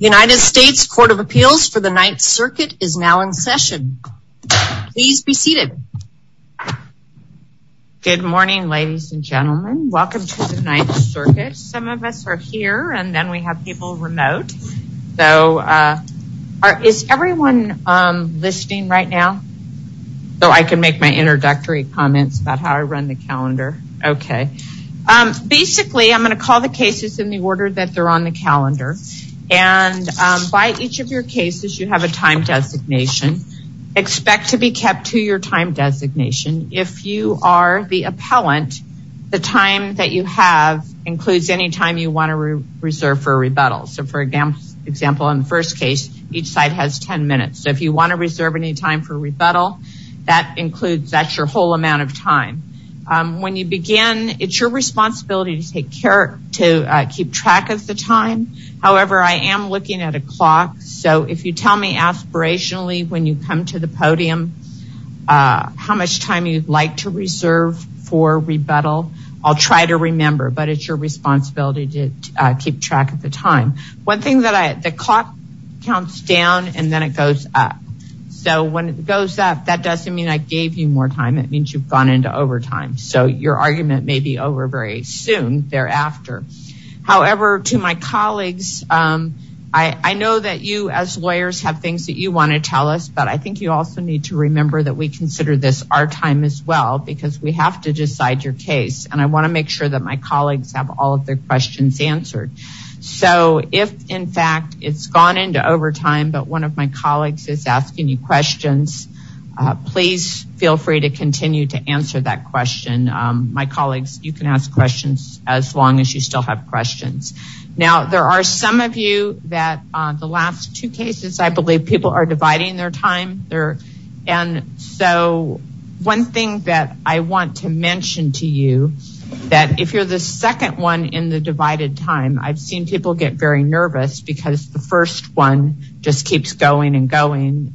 United States Court of Appeals for the Ninth Circuit is now in session. Please be seated. Good morning ladies and gentlemen. Welcome to the Ninth Circuit. Some of us are here and then we have people remote. So is everyone listening right now? So I can make my introductory comments about how I run the calendar. Okay. Basically I'm going to call the cases in the order that are on the calendar. And by each of your cases you have a time designation. Expect to be kept to your time designation. If you are the appellant, the time that you have includes any time you want to reserve for rebuttal. So for example, in the first case, each side has 10 minutes. So if you want to reserve any time for rebuttal, that includes, that's your whole amount of time. When you begin, it's your responsibility to take care, to keep track of the time. However, I am looking at a clock. So if you tell me aspirationally when you come to the podium how much time you'd like to reserve for rebuttal, I'll try to remember. But it's your responsibility to keep track of the time. One thing that I, the clock counts down and then it goes up. So when it goes up, that doesn't mean I gave you more time. It means you've gone into overtime. So your argument may be over very soon thereafter. However, to my colleagues, I know that you as lawyers have things that you want to tell us. But I think you also need to remember that we consider this our time as well. Because we have to decide your case. And I want to make sure that my colleagues have all of their questions answered. So if in fact it's gone into overtime, but one of my colleagues is asking you questions, please feel free to continue to answer that question. My colleagues, you can ask questions as long as you still have questions. Now, there are some of you that the last two cases, I believe people are dividing their time. And so one thing that I want to mention to you, that if you're the second one in the divided time, I've seen people get very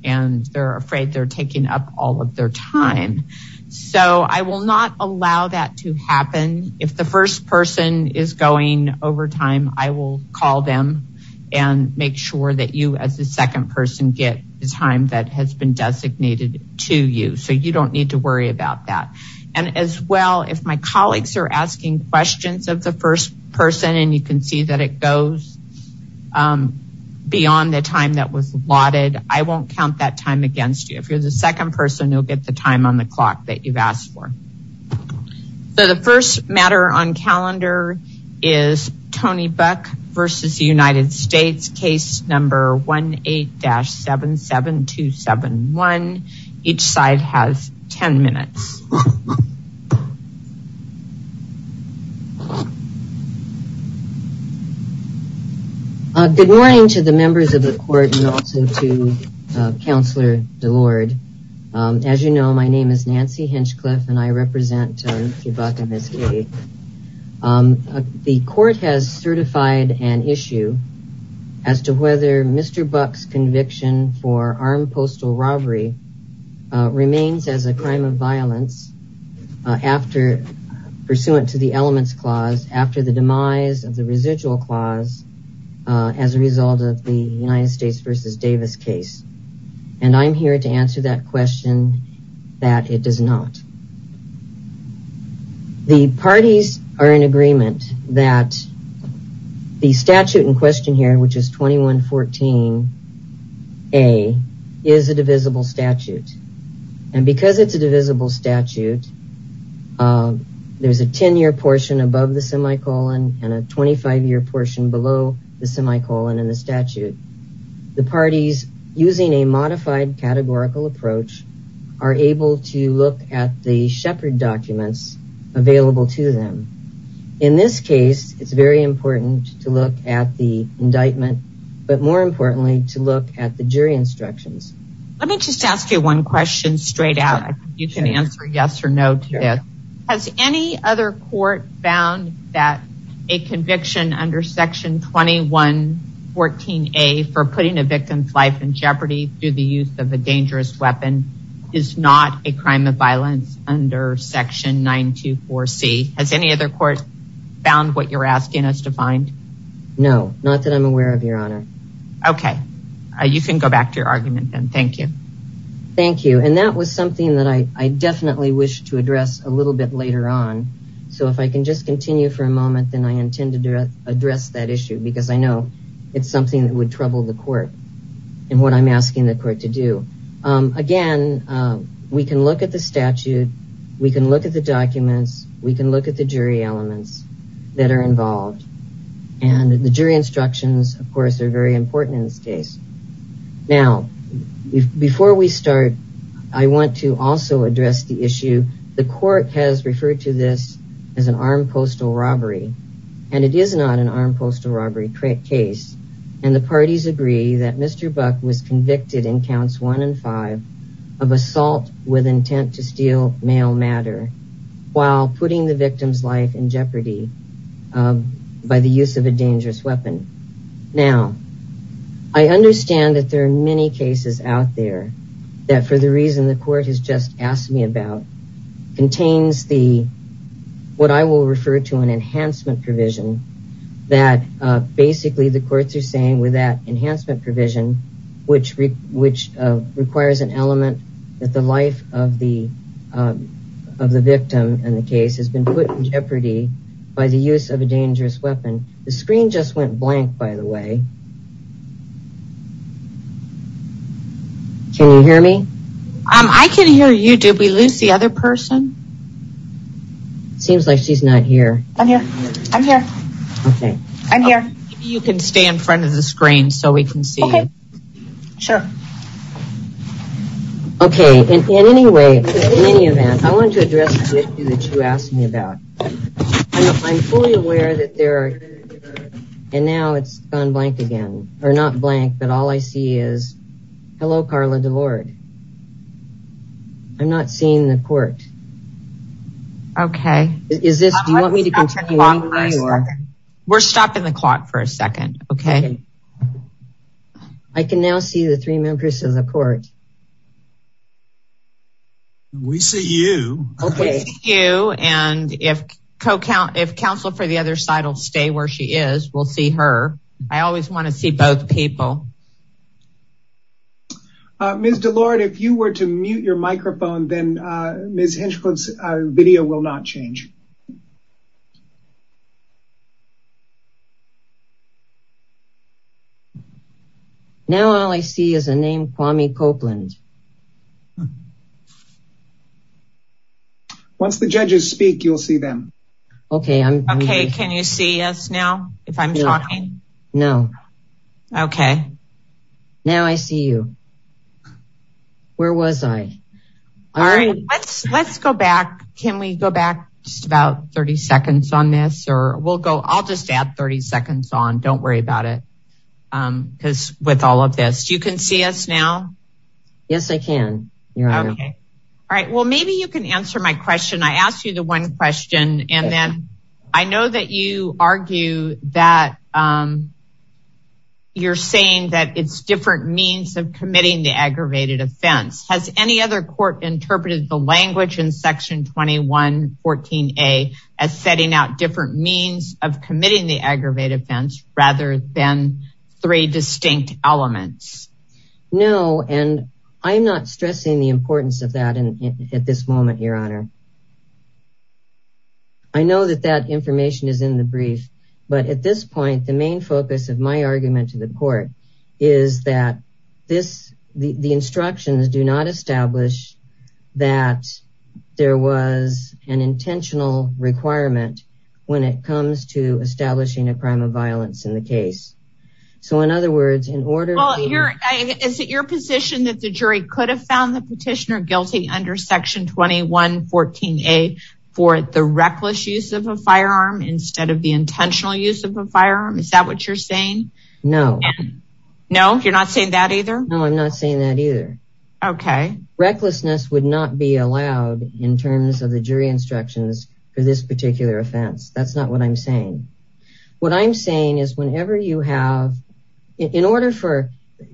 and they're afraid they're taking up all of their time. So I will not allow that to happen. If the first person is going overtime, I will call them and make sure that you as the second person get the time that has been designated to you. So you don't need to worry about that. And as well, if my colleagues are asking questions of the first person, and you can see that it goes beyond the time that was allotted, I won't count that time against you. If you're the second person, you'll get the time on the clock that you've asked for. So the first matter on calendar is Tony Buck versus the United States case number 18-77271. Each side has 10 minutes. Good morning to the members of the court and also to the court has certified an issue as to whether Mr. Buck's conviction for armed postal robbery remains as a crime of violence after pursuant to the elements clause after the demise of the residual clause as a result of the United States versus Davis case. And I'm here to answer that that it does not. The parties are in agreement that the statute in question here, which is 2114 A, is a divisible statute. And because it's a divisible statute, there's a 10-year portion above the semicolon and a 25-year portion below the semicolon in the statute. The parties, using a modified categorical approach, are able to look at the Shepard documents available to them. In this case, it's very important to look at the indictment, but more importantly, to look at the jury instructions. Let me just ask you one question straight out. You can answer yes or no to that. Has any other court found that a conviction under 2114 A for putting a victim's life in jeopardy through the use of a dangerous weapon is not a crime of violence under section 924 C? Has any other court found what you're asking us to find? No, not that I'm aware of, Your Honor. Okay. You can go back to your argument then. Thank you. Thank you. And that was something that I definitely wish to address a little bit later on. So if I can just continue for a moment, then I intend to address that issue because I know it's something that would trouble the court and what I'm asking the court to do. Again, we can look at the statute. We can look at the documents. We can look at the jury elements that are involved. And the jury instructions, of course, are very important in this case. Now, before we start, I want to also address the issue. The court has referred to this as an armed postal robbery. And it is not an armed postal robbery case. And the parties agree that Mr. Buck was convicted in counts one and five of assault with intent to steal male matter while putting the victim's life in jeopardy by the use of a dangerous weapon. Now, I understand that there are many cases out there that, for the reason the court has just asked me about, contains what I will refer to an enhancement provision that basically the courts are saying with that enhancement provision, which requires an element that the life of the victim in the case has been put in jeopardy by the use of a dangerous weapon. The screen just went blank, by the way. Can you hear me? I can hear you. Did we lose the other person? Seems like she's not here. I'm here. I'm here. Okay. I'm here. You can stay in front of the screen so we can see. Okay. Sure. Okay. In any way, in any event, I wanted to address the issue that you asked me about. I'm fully aware that there are, and now it's gone blank again, or not blank, but all I see is, hello, Carla DeVord. I'm not seeing the court. Okay. Is this, do you want me to continue? We're stopping the clock for a second. Okay. I can now see the three members of the court. We see you. Okay. We see you, and if counsel for the other side will stay where she is, we'll see her. I always want to see both people. Ms. DeLorde, if you were to mute your microphone, then Ms. Hinchcliffe's video will not change. Now, all I see is a name, Kwame Copeland. Once the judges speak, you'll see them. Okay. Can you see us now, if I'm talking? No. Okay. Now, I see you. Where was I? All right. Let's go back. Can we go back to the 30 seconds on this? I'll just add 30 seconds on. Don't worry about it, because with all of this, you can see us now? Yes, I can. All right. Well, maybe you can answer my question. I asked you the one question, and then I know that you argue that you're saying that it's different means of committing the aggravated offense. Has any other court interpreted the language in Section 2114A as setting out different means of committing the aggravated offense, rather than three distinct elements? No, and I'm not stressing the importance of that at this moment, Your Honor. I know that that information is in the brief, but at this point, the main focus of my argument to the court is that the instructions do not establish that there was an intentional requirement when it comes to establishing a crime of violence in the case. So, in other words, in order- Well, is it your position that the jury could have found the petitioner guilty under Section 2114A for the reckless use of a firearm instead of the intentional use of a firearm? Is that what you're saying? No. No, you're not saying that either? No, I'm not saying that either. Okay. Recklessness would not be allowed in terms of the jury instructions for this particular offense. That's not what I'm saying. What I'm saying is whenever you have- In order for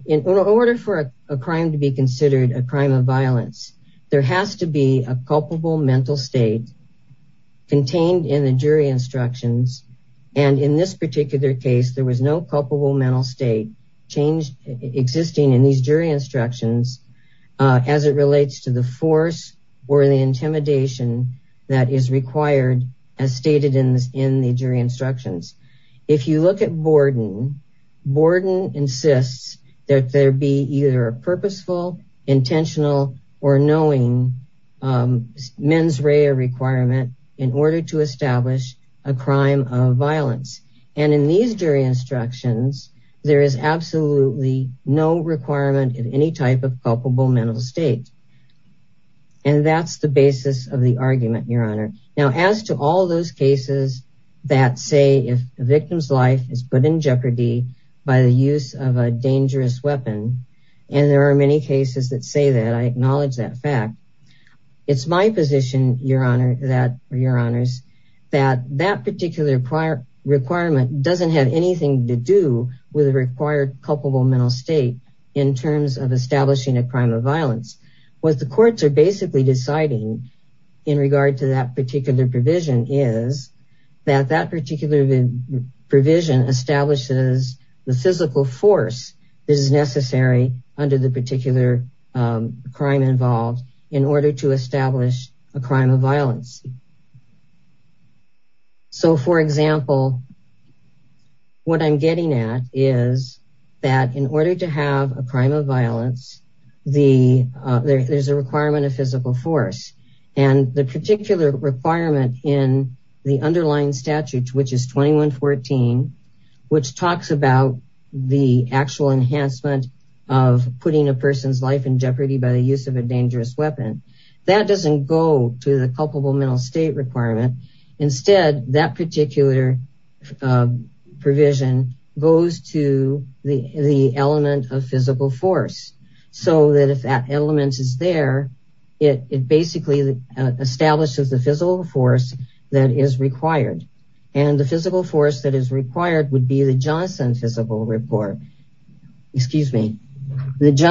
a crime to be considered a crime of violence, there has to be a culpable mental state contained in the jury instructions. And in this particular case, there was no culpable mental state existing in these jury instructions as it relates to the force or the intimidation that is required as stated in the jury instructions. If you look at Borden, Borden insists that there be either a purposeful, intentional, or knowing mens rea requirement in order to establish a crime of violence. And in these jury instructions, there is absolutely no requirement of any type of culpable mental state. And that's the basis of the argument, Your Honor. Now, as to all those cases that say if a victim's life is put in jeopardy by the use of a dangerous weapon, and there are many cases that say that, I acknowledge that fact, it's my position, Your Honor, that that particular requirement doesn't have anything to do with a required culpable mental state in terms of establishing a crime of violence. What the courts are basically deciding in regard to that particular provision is that that particular provision establishes the physical force that is necessary under the particular crime involved in order to establish a crime of violence. So, for example, what I'm getting at is that in order to have a crime of violence, there's a requirement of physical force. And the particular requirement in the underlying use of a dangerous weapon, that doesn't go to the culpable mental state requirement. Instead, that particular provision goes to the element of physical force. So that if that element is there, it basically establishes the physical force that is required. And the physical force that is required is the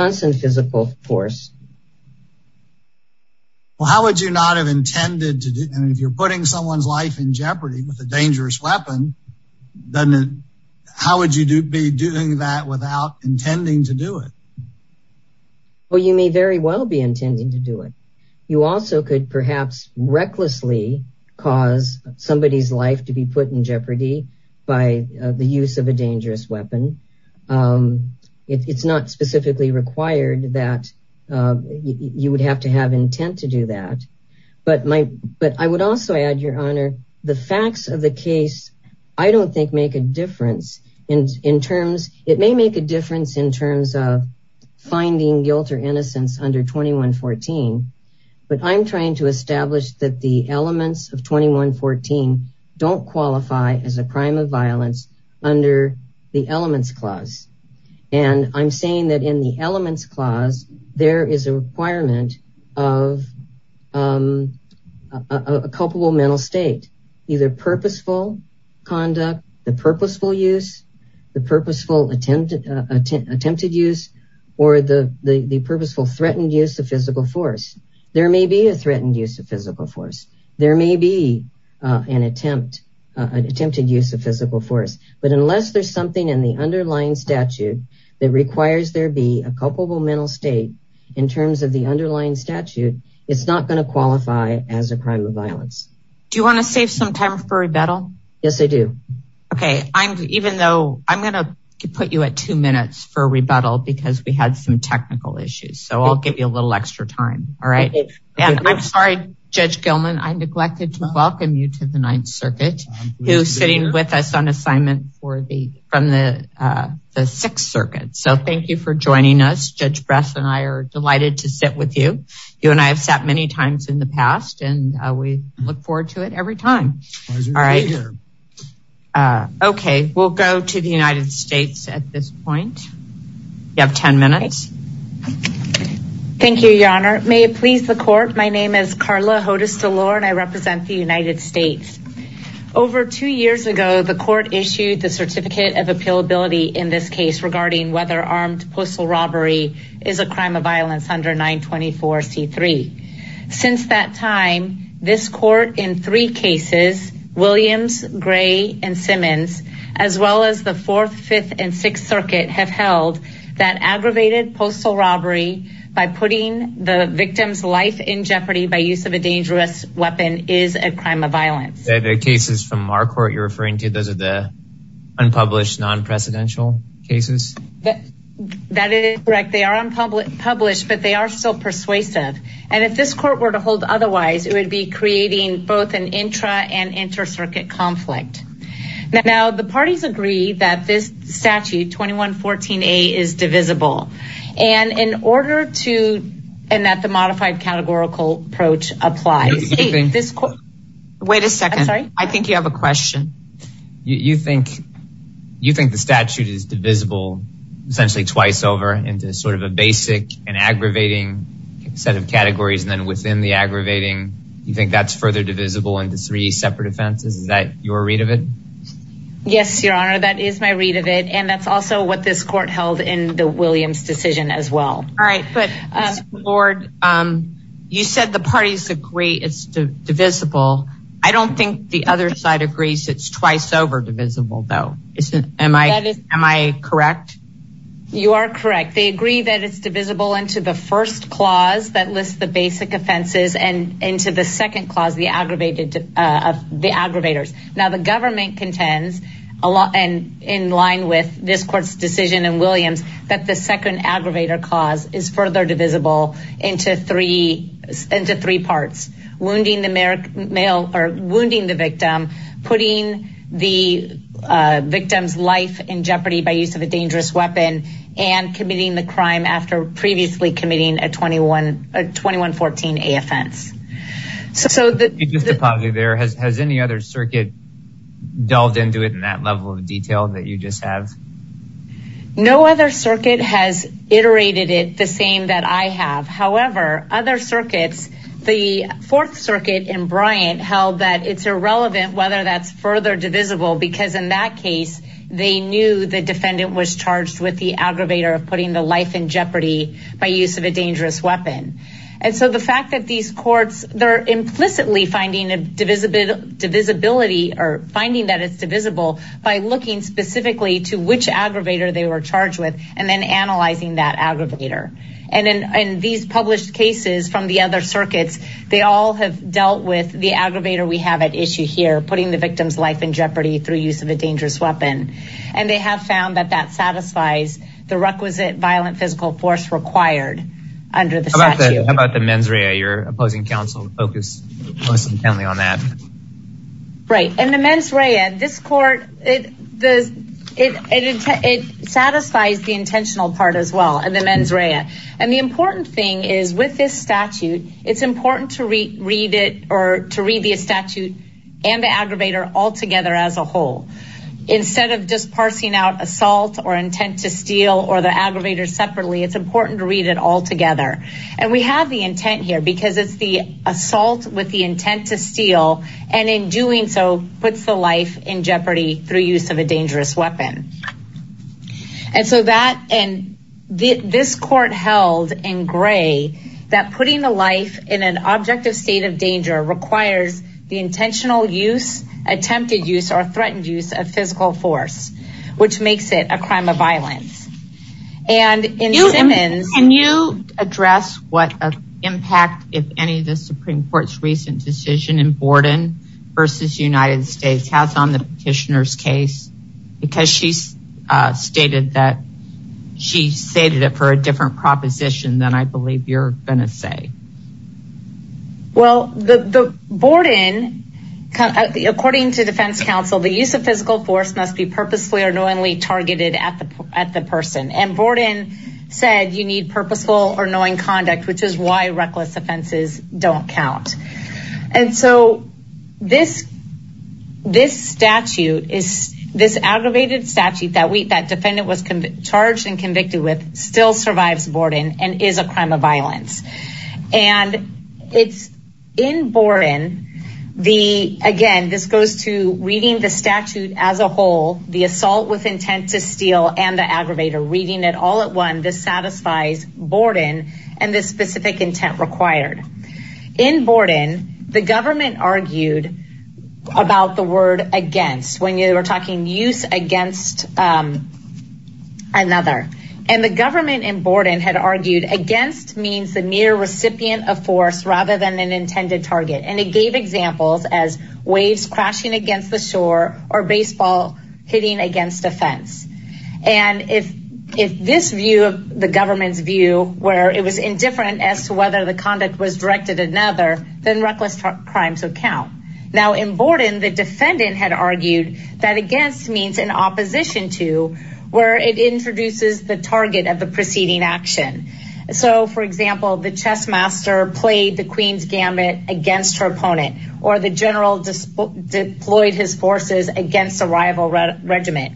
physical force. Well, how would you not have intended to do, and if you're putting someone's life in jeopardy with a dangerous weapon, then how would you be doing that without intending to do it? Well, you may very well be intending to do it. You also could perhaps recklessly cause somebody's life to be put in jeopardy by the use of a dangerous weapon. It's not specifically required that you would have to have intent to do that. But I would also add, Your Honor, the facts of the case, I don't think make a difference. It may make a difference in terms of finding guilt or innocence under 2114. But I'm trying to establish that the elements of 2114 don't qualify as a crime of violence under the Elements Clause. And I'm saying that in the Elements Clause, there is a requirement of a culpable mental state, either purposeful conduct, the purposeful use, the purposeful attempted use, or the purposeful threatened use of physical force. There may be a threatened use of physical force. There may be an attempt, an attempted use of physical force. But unless there's something in the underlying statute that requires there be a culpable mental state in terms of the underlying statute, it's not going to qualify as a crime of violence. Do you want to save some time for rebuttal? Yes, I do. Okay, I'm even though I'm going to put you at two minutes for rebuttal because we had some extra time. All right. And I'm sorry, Judge Gilman, I neglected to welcome you to the Ninth Circuit, who's sitting with us on assignment from the Sixth Circuit. So thank you for joining us. Judge Bress and I are delighted to sit with you. You and I have sat many times in the past, and we look forward to it every time. All right. Okay, we'll go to the United States at this point. You have 10 minutes. Thank you, Your Honor. May it please the court, my name is Carla Hodes DeLore, and I represent the United States. Over two years ago, the court issued the Certificate of Appealability in this case regarding whether armed postal robbery is a crime of violence under 924 C3. Since that time, this court in three cases, Williams, Gray, and Simmons, as well as the Fourth, Fifth, and Sixth Circuit have held that aggravated postal robbery by putting the victim's life in jeopardy by use of a dangerous weapon is a crime of violence. The cases from our court you're referring to, those are the unpublished non-presidential cases? That is correct. They are unpublished, but they are still persuasive. And if this court were to hold otherwise, it would be creating both an intra and inter-circuit conflict. Now, the parties agree that this statute 2114A is divisible. And in order to, and that the modified categorical approach applies. Wait a second. I think you have a question. You think the statute is divisible essentially twice over into sort of a basic and aggravating set of categories, and then within the aggravating, you think that's further divisible into three separate offenses? Is that your read of it? Yes, Your Honor. That is my read of it. And that's also what this court held in the Williams decision as well. All right. But Lord, you said the parties agree it's divisible. I don't think the other side agrees it's twice over divisible though. Am I correct? You are correct. They agree that it's divisible into the first clause that lists the basic offenses and into the second clause, the aggravators. Now, the government contends, and in line with this court's decision in Williams, that the second aggravator clause is further divisible into three parts, wounding the victim, putting the victim's life in jeopardy by use of a dangerous weapon, and committing the crime. Has any other circuit delved into it in that level of detail that you just have? No other circuit has iterated it the same that I have. However, other circuits, the Fourth Circuit and Bryant held that it's irrelevant whether that's further divisible because in that case, they knew the defendant was charged with the aggravator of putting the life in jeopardy by use of a dangerous weapon. And so the fact that these courts, they're implicitly finding that it's divisible by looking specifically to which aggravator they were charged with and then analyzing that aggravator. And these published cases from the other circuits, they all have dealt with the aggravator we have at issue here, putting the victim's life in jeopardy through use of a dangerous weapon. And they have found that that satisfies the requisite violent physical force required under the statute. How about the mens rea? Your opposing counsel focused most intently on that. Right. And the mens rea, this court, it satisfies the intentional part as well, and the mens rea. And the important thing is with this statute, it's important to read it or to read the statute and the aggravator all together as a whole. Instead of just parsing out assault or intent to steal or the aggravator separately, it's important to read it all together. And we have the intent here because it's the assault with the intent to steal and in doing so puts the life in jeopardy through use of a dangerous weapon. And so that and this court held in gray that putting the life in an objective state of danger requires the intentional use, attempted use, or threatened use of physical force, which makes it a crime of violence. And in Simmons. Can you address what an impact, if any, the Supreme Court's recent decision in Borden versus United States has on the petitioner's case? Because she's stated that she stated it for a different proposition than I believe you're going to say. Well, the Borden, according to defense counsel, the use of physical force must be purposely or knowingly targeted at the at the person and Borden said you need purposeful or knowing conduct, which is why reckless offenses don't count. And so this this statute is this aggravated statute that we that defendant was charged and convicted with still survives Borden and is a crime of violence. And it's in Borden. The again, this goes to reading the statute as a whole, the assault with intent to steal and the aggravator reading it all at one. This satisfies Borden and this specific intent required in Borden. The government argued about the word against when you were talking use against another and the government in Borden had argued against means the mere recipient of force rather than an intended target. And it gave examples as waves crashing against the shore or baseball hitting against a fence. And if if this view of the government's view where it was indifferent as to whether the conduct was directed at another, then reckless crimes would count. Now in Borden, the defendant had argued that against means in opposition to where it introduces the target of the preceding action. So for example, the chess master played the queen's gamut against her opponent or the general deployed his forces against a rival regiment.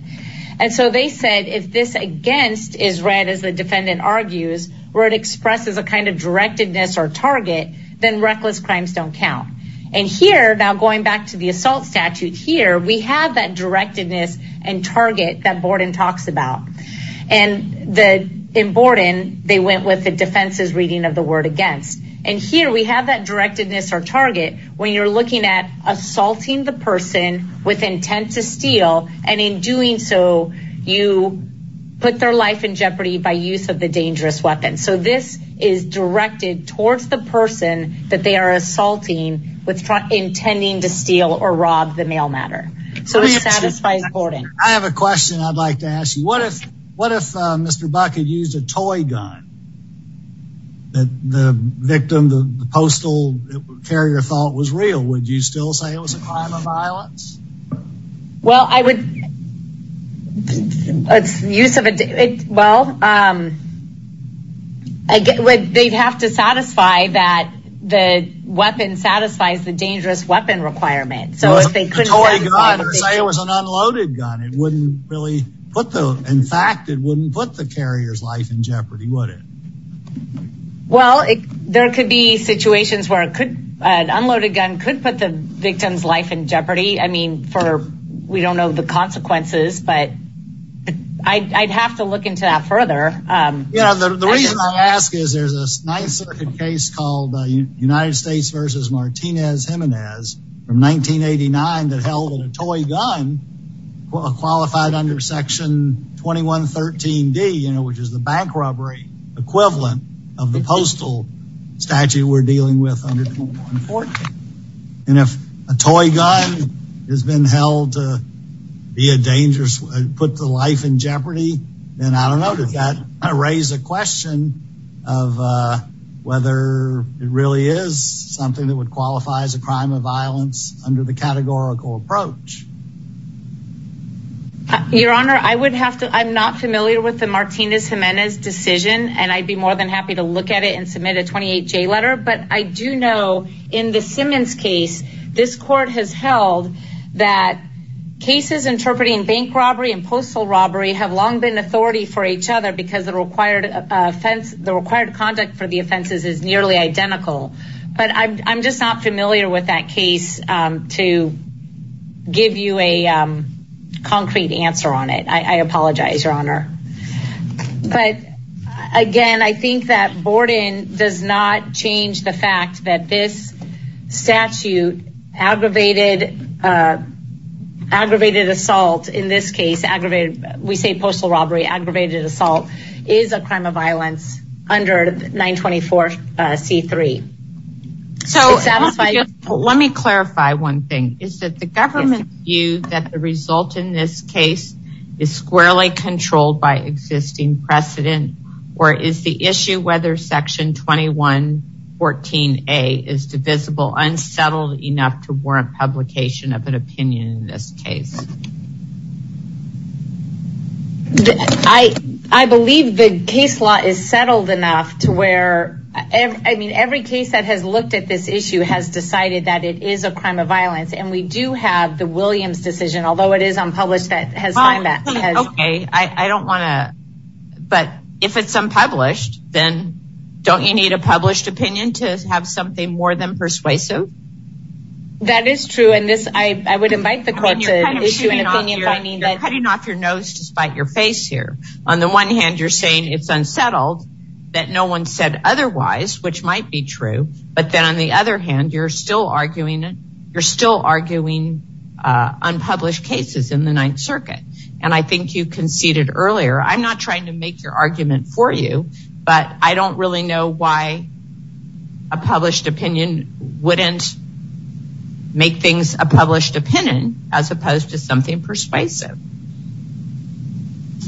And so they said if this against is read as the defendant argues, where it expresses a kind of directedness or target, then reckless crimes don't count. And here now going back to the assault statute here, we have that directedness and target that Borden talks about. And the in Borden, they went with the defense's reading of the word against. And here we have that directedness or target when you're looking at assaulting the person with intent to steal. And in doing so, you put their life in jeopardy by use of the dangerous weapon. So this is directed towards the person that they are assaulting with intent to steal or rob the mail matter. So it satisfies Borden. I have a question I'd like to ask you. What if what if Mr. Buck had used a toy gun? The victim, the postal carrier thought was real, would you still say it was a crime of violence? Well, I would use of it. Well, they'd have to satisfy that the weapon satisfies the dangerous weapon requirement. So if they could say it was an unloaded gun, it wouldn't really put the in fact, it wouldn't put the carrier's life in jeopardy, would it? Well, there could be situations where it could an unloaded gun could put the victim's life in jeopardy. I mean, for we don't know the consequences, but I'd have to look into that further. You know, the reason I ask is there's a nice case called United States versus Martinez Jimenez from 1989 that held a toy gun qualified under Section 2113 D, which is the bank robbery equivalent of the postal statute we're dealing with under 2114. And if a toy gun has been held to be a dangerous put the life in jeopardy, then I don't know that that raise a question of whether it really is something that would qualify as a crime of violence under the categorical approach. Your Honor, I would have to I'm not familiar with the Martinez decision, and I'd be more than happy to look at it and submit a 28 J letter. But I do know in the Simmons case, this court has held that cases interpreting bank robbery and postal robbery have long been authority for each other because the required offense, the required conduct for the offenses is nearly identical. But I'm just not familiar with that case to give you a Again, I think that Borden does not change the fact that this statute aggravated, aggravated assault in this case, aggravated, we say postal robbery, aggravated assault is a crime of violence under 924 C3. So let me clarify one thing is that the government view that the result in this case is squarely controlled by existing precedent, or is the issue whether section 2114 a is divisible, unsettled enough to warrant publication of an opinion in this case. I, I believe the case law is settled enough to where I mean, every case that has Although it is unpublished, that has, okay, I don't want to. But if it's unpublished, then don't you need a published opinion to have something more than persuasive? That is true. And this I would invite the court to issue an opinion finding that cutting off your nose to spite your face here. On the one hand, you're saying it's unsettled, that no one said otherwise, which might be true. But then on the other hand, you're still arguing, you're still arguing unpublished cases in the Ninth Circuit. And I think you conceded earlier, I'm not trying to make your argument for you. But I don't really know why a published opinion wouldn't make things a published opinion, as opposed to something persuasive.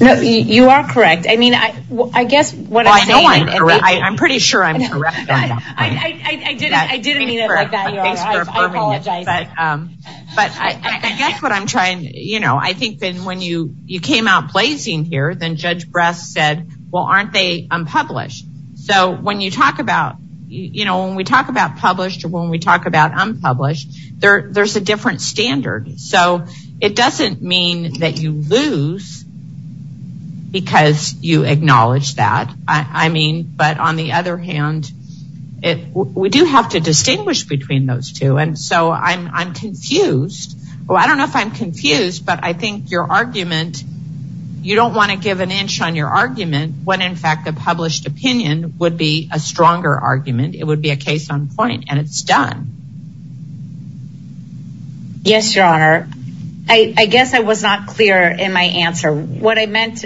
No, you are correct. I mean, I guess what I know, I'm pretty sure I'm correct. I didn't mean it like that. I apologize. But I guess what I'm trying to, you know, I think that when you came out blazing here, then Judge Bress said, well, aren't they unpublished? So when you talk about, you know, when we talk about published, or when we talk about unpublished, there's a different standard. So it doesn't mean that you lose, because you acknowledge that. I mean, but on the other hand, we do have to distinguish between those two. And so I'm confused. Well, I don't know if I'm confused. But I think your argument, you don't want to give an inch on your argument, when in fact, the published opinion would be a stronger argument, it would be a case on point, and it's done. Yes, Your Honor, I guess I was not clear in my answer. What I meant,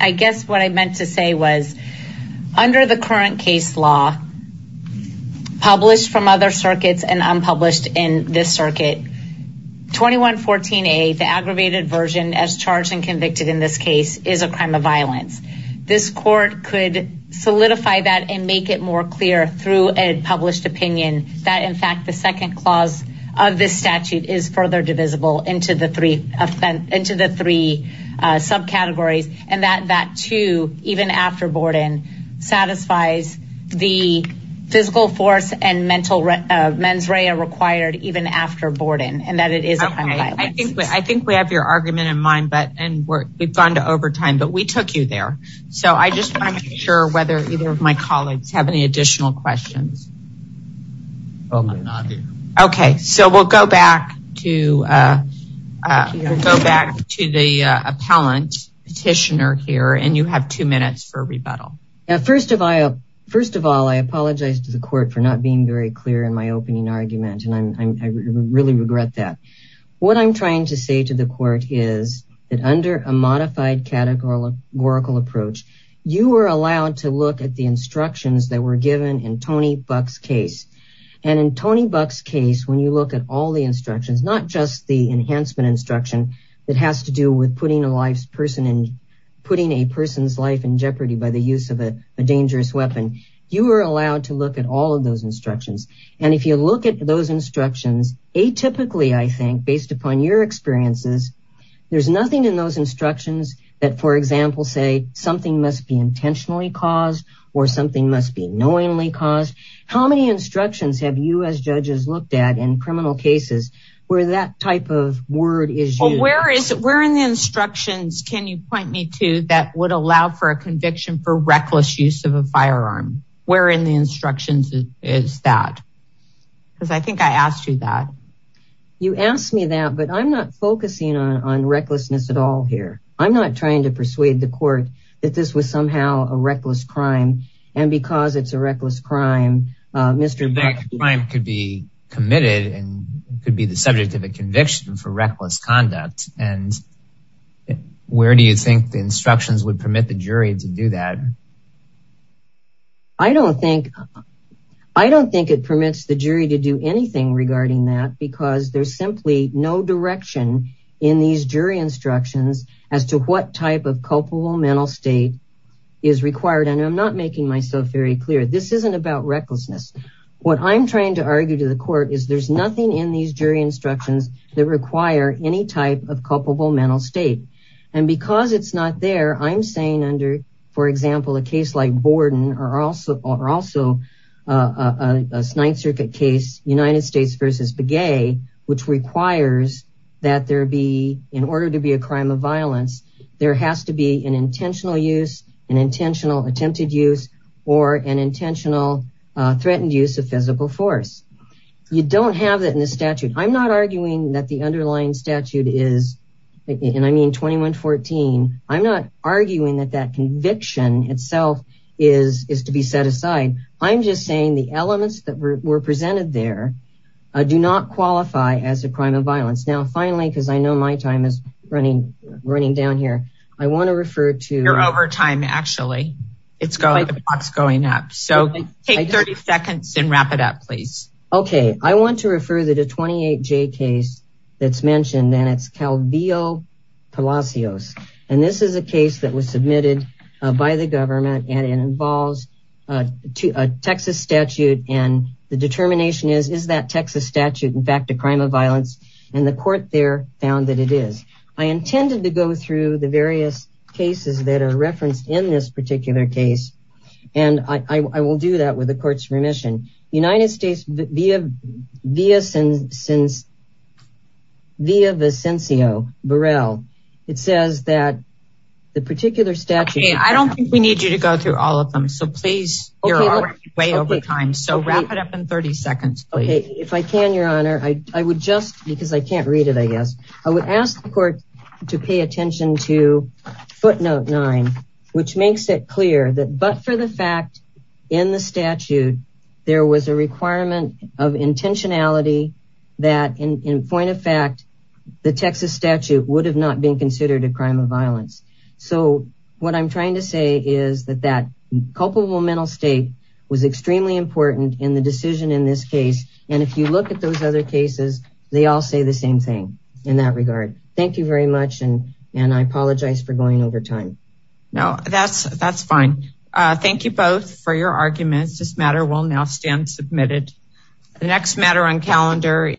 I guess what I meant to say was, under the current case law, published from other circuits and unpublished in this circuit, 2114A, the aggravated version as charged and convicted in this case is a crime of violence. This court could solidify that and make it more clear through a published opinion that in fact, the second clause of this statute is further divisible into the three subcategories, and that that too, even after Borden, satisfies the physical force and mental mens rea required even after Borden, and that it is a crime of violence. I think we have your argument in mind, and we've gone to overtime, but we took you there. So I just want to make sure whether either of my colleagues have any additional questions. Okay, so we'll go back to the appellant petitioner here, and you have two minutes for rebuttal. First of all, I apologize to the court for not being very clear in my opening argument, and I really regret that. What I'm trying to say to the court is that under a modified categorical approach, you are allowed to look at the instructions that were given in Tony Buck's case. And in Tony Buck's case, when you look at all the instructions, not just the enhancement instruction that has to do with putting a life's person in, putting a person's life in jeopardy by the use of a dangerous weapon, you are allowed to look at all of those instructions. And if you look at those instructions, atypically, I think, based upon your experiences, there's nothing in those instructions that, for example, say something must be intentionally caused or something must be knowingly caused. How many instructions have you as judges looked at in criminal cases where that type of word is used? Where in the instructions can you point me to that would allow for a conviction for reckless use of a firearm? Where in the instructions is that? Because I think I asked you that. You asked me that, but I'm not focusing on recklessness at all here. I'm not trying to persuade the court that this was somehow a reckless crime. And because it's a reckless crime, Mr. Buck... That crime could be committed and could be the subject of a conviction for reckless conduct. And where do you think the instructions would permit the jury to do that? I don't think it permits the jury to do anything regarding that because there's simply no direction in these jury instructions as to what type of culpable mental state is required. And I'm not making myself very clear. This isn't about recklessness. What I'm trying to argue to the court is there's nothing in these jury instructions that require any type of culpable mental state. And because it's not there, I'm saying under, for example, a case like Borden or also a Ninth Circuit case, United States versus Begay, which requires that in order to be a crime of violence, there has to be an intentional use, an intentional attempted use, or an intentional threatened use of physical force. You don't have that in the statute. I'm not arguing that the underlying statute is, and I mean 2114, I'm not arguing that that conviction itself is to be set aside. I'm just saying the elements that were presented there do not qualify as a crime of violence. Now, finally, because I know my time is running down here, I want to refer to... You're over time, actually. It's going up. So take 30 seconds and wrap it up, please. Okay. I want to refer to the 28J case that's mentioned, and it's Calvillo-Palacios. And this is a case that was submitted by the government, and it involves a Texas statute. And the determination is, is that Texas statute in fact a crime of violence? And the court there found that it is. I intended to go through the various cases that are referenced in this particular case, and I will do that with the court's remission. United States, via Vicencio Burrell, it says that the particular statute... Okay. I don't think we need you to go through all of them. So please, you're already way over time. So wrap it up in 30 seconds, please. Okay. If I can, Your Honor, I would just, because I can't read it, I guess. I would ask the court to pay attention to footnote nine, which makes it clear that but for the fact in the statute, there was a requirement of intentionality that in point of fact, the Texas statute would have not been considered a crime of violence. So what I'm trying to say is that that culpable mental state was extremely important in the decision in this case. And if you look at those other cases, they all say the same thing in that regard. Thank you very much. And I apologize for going over time. No, that's fine. Thank you both for your arguments. This matter will now stand submitted. The next matter on calendar...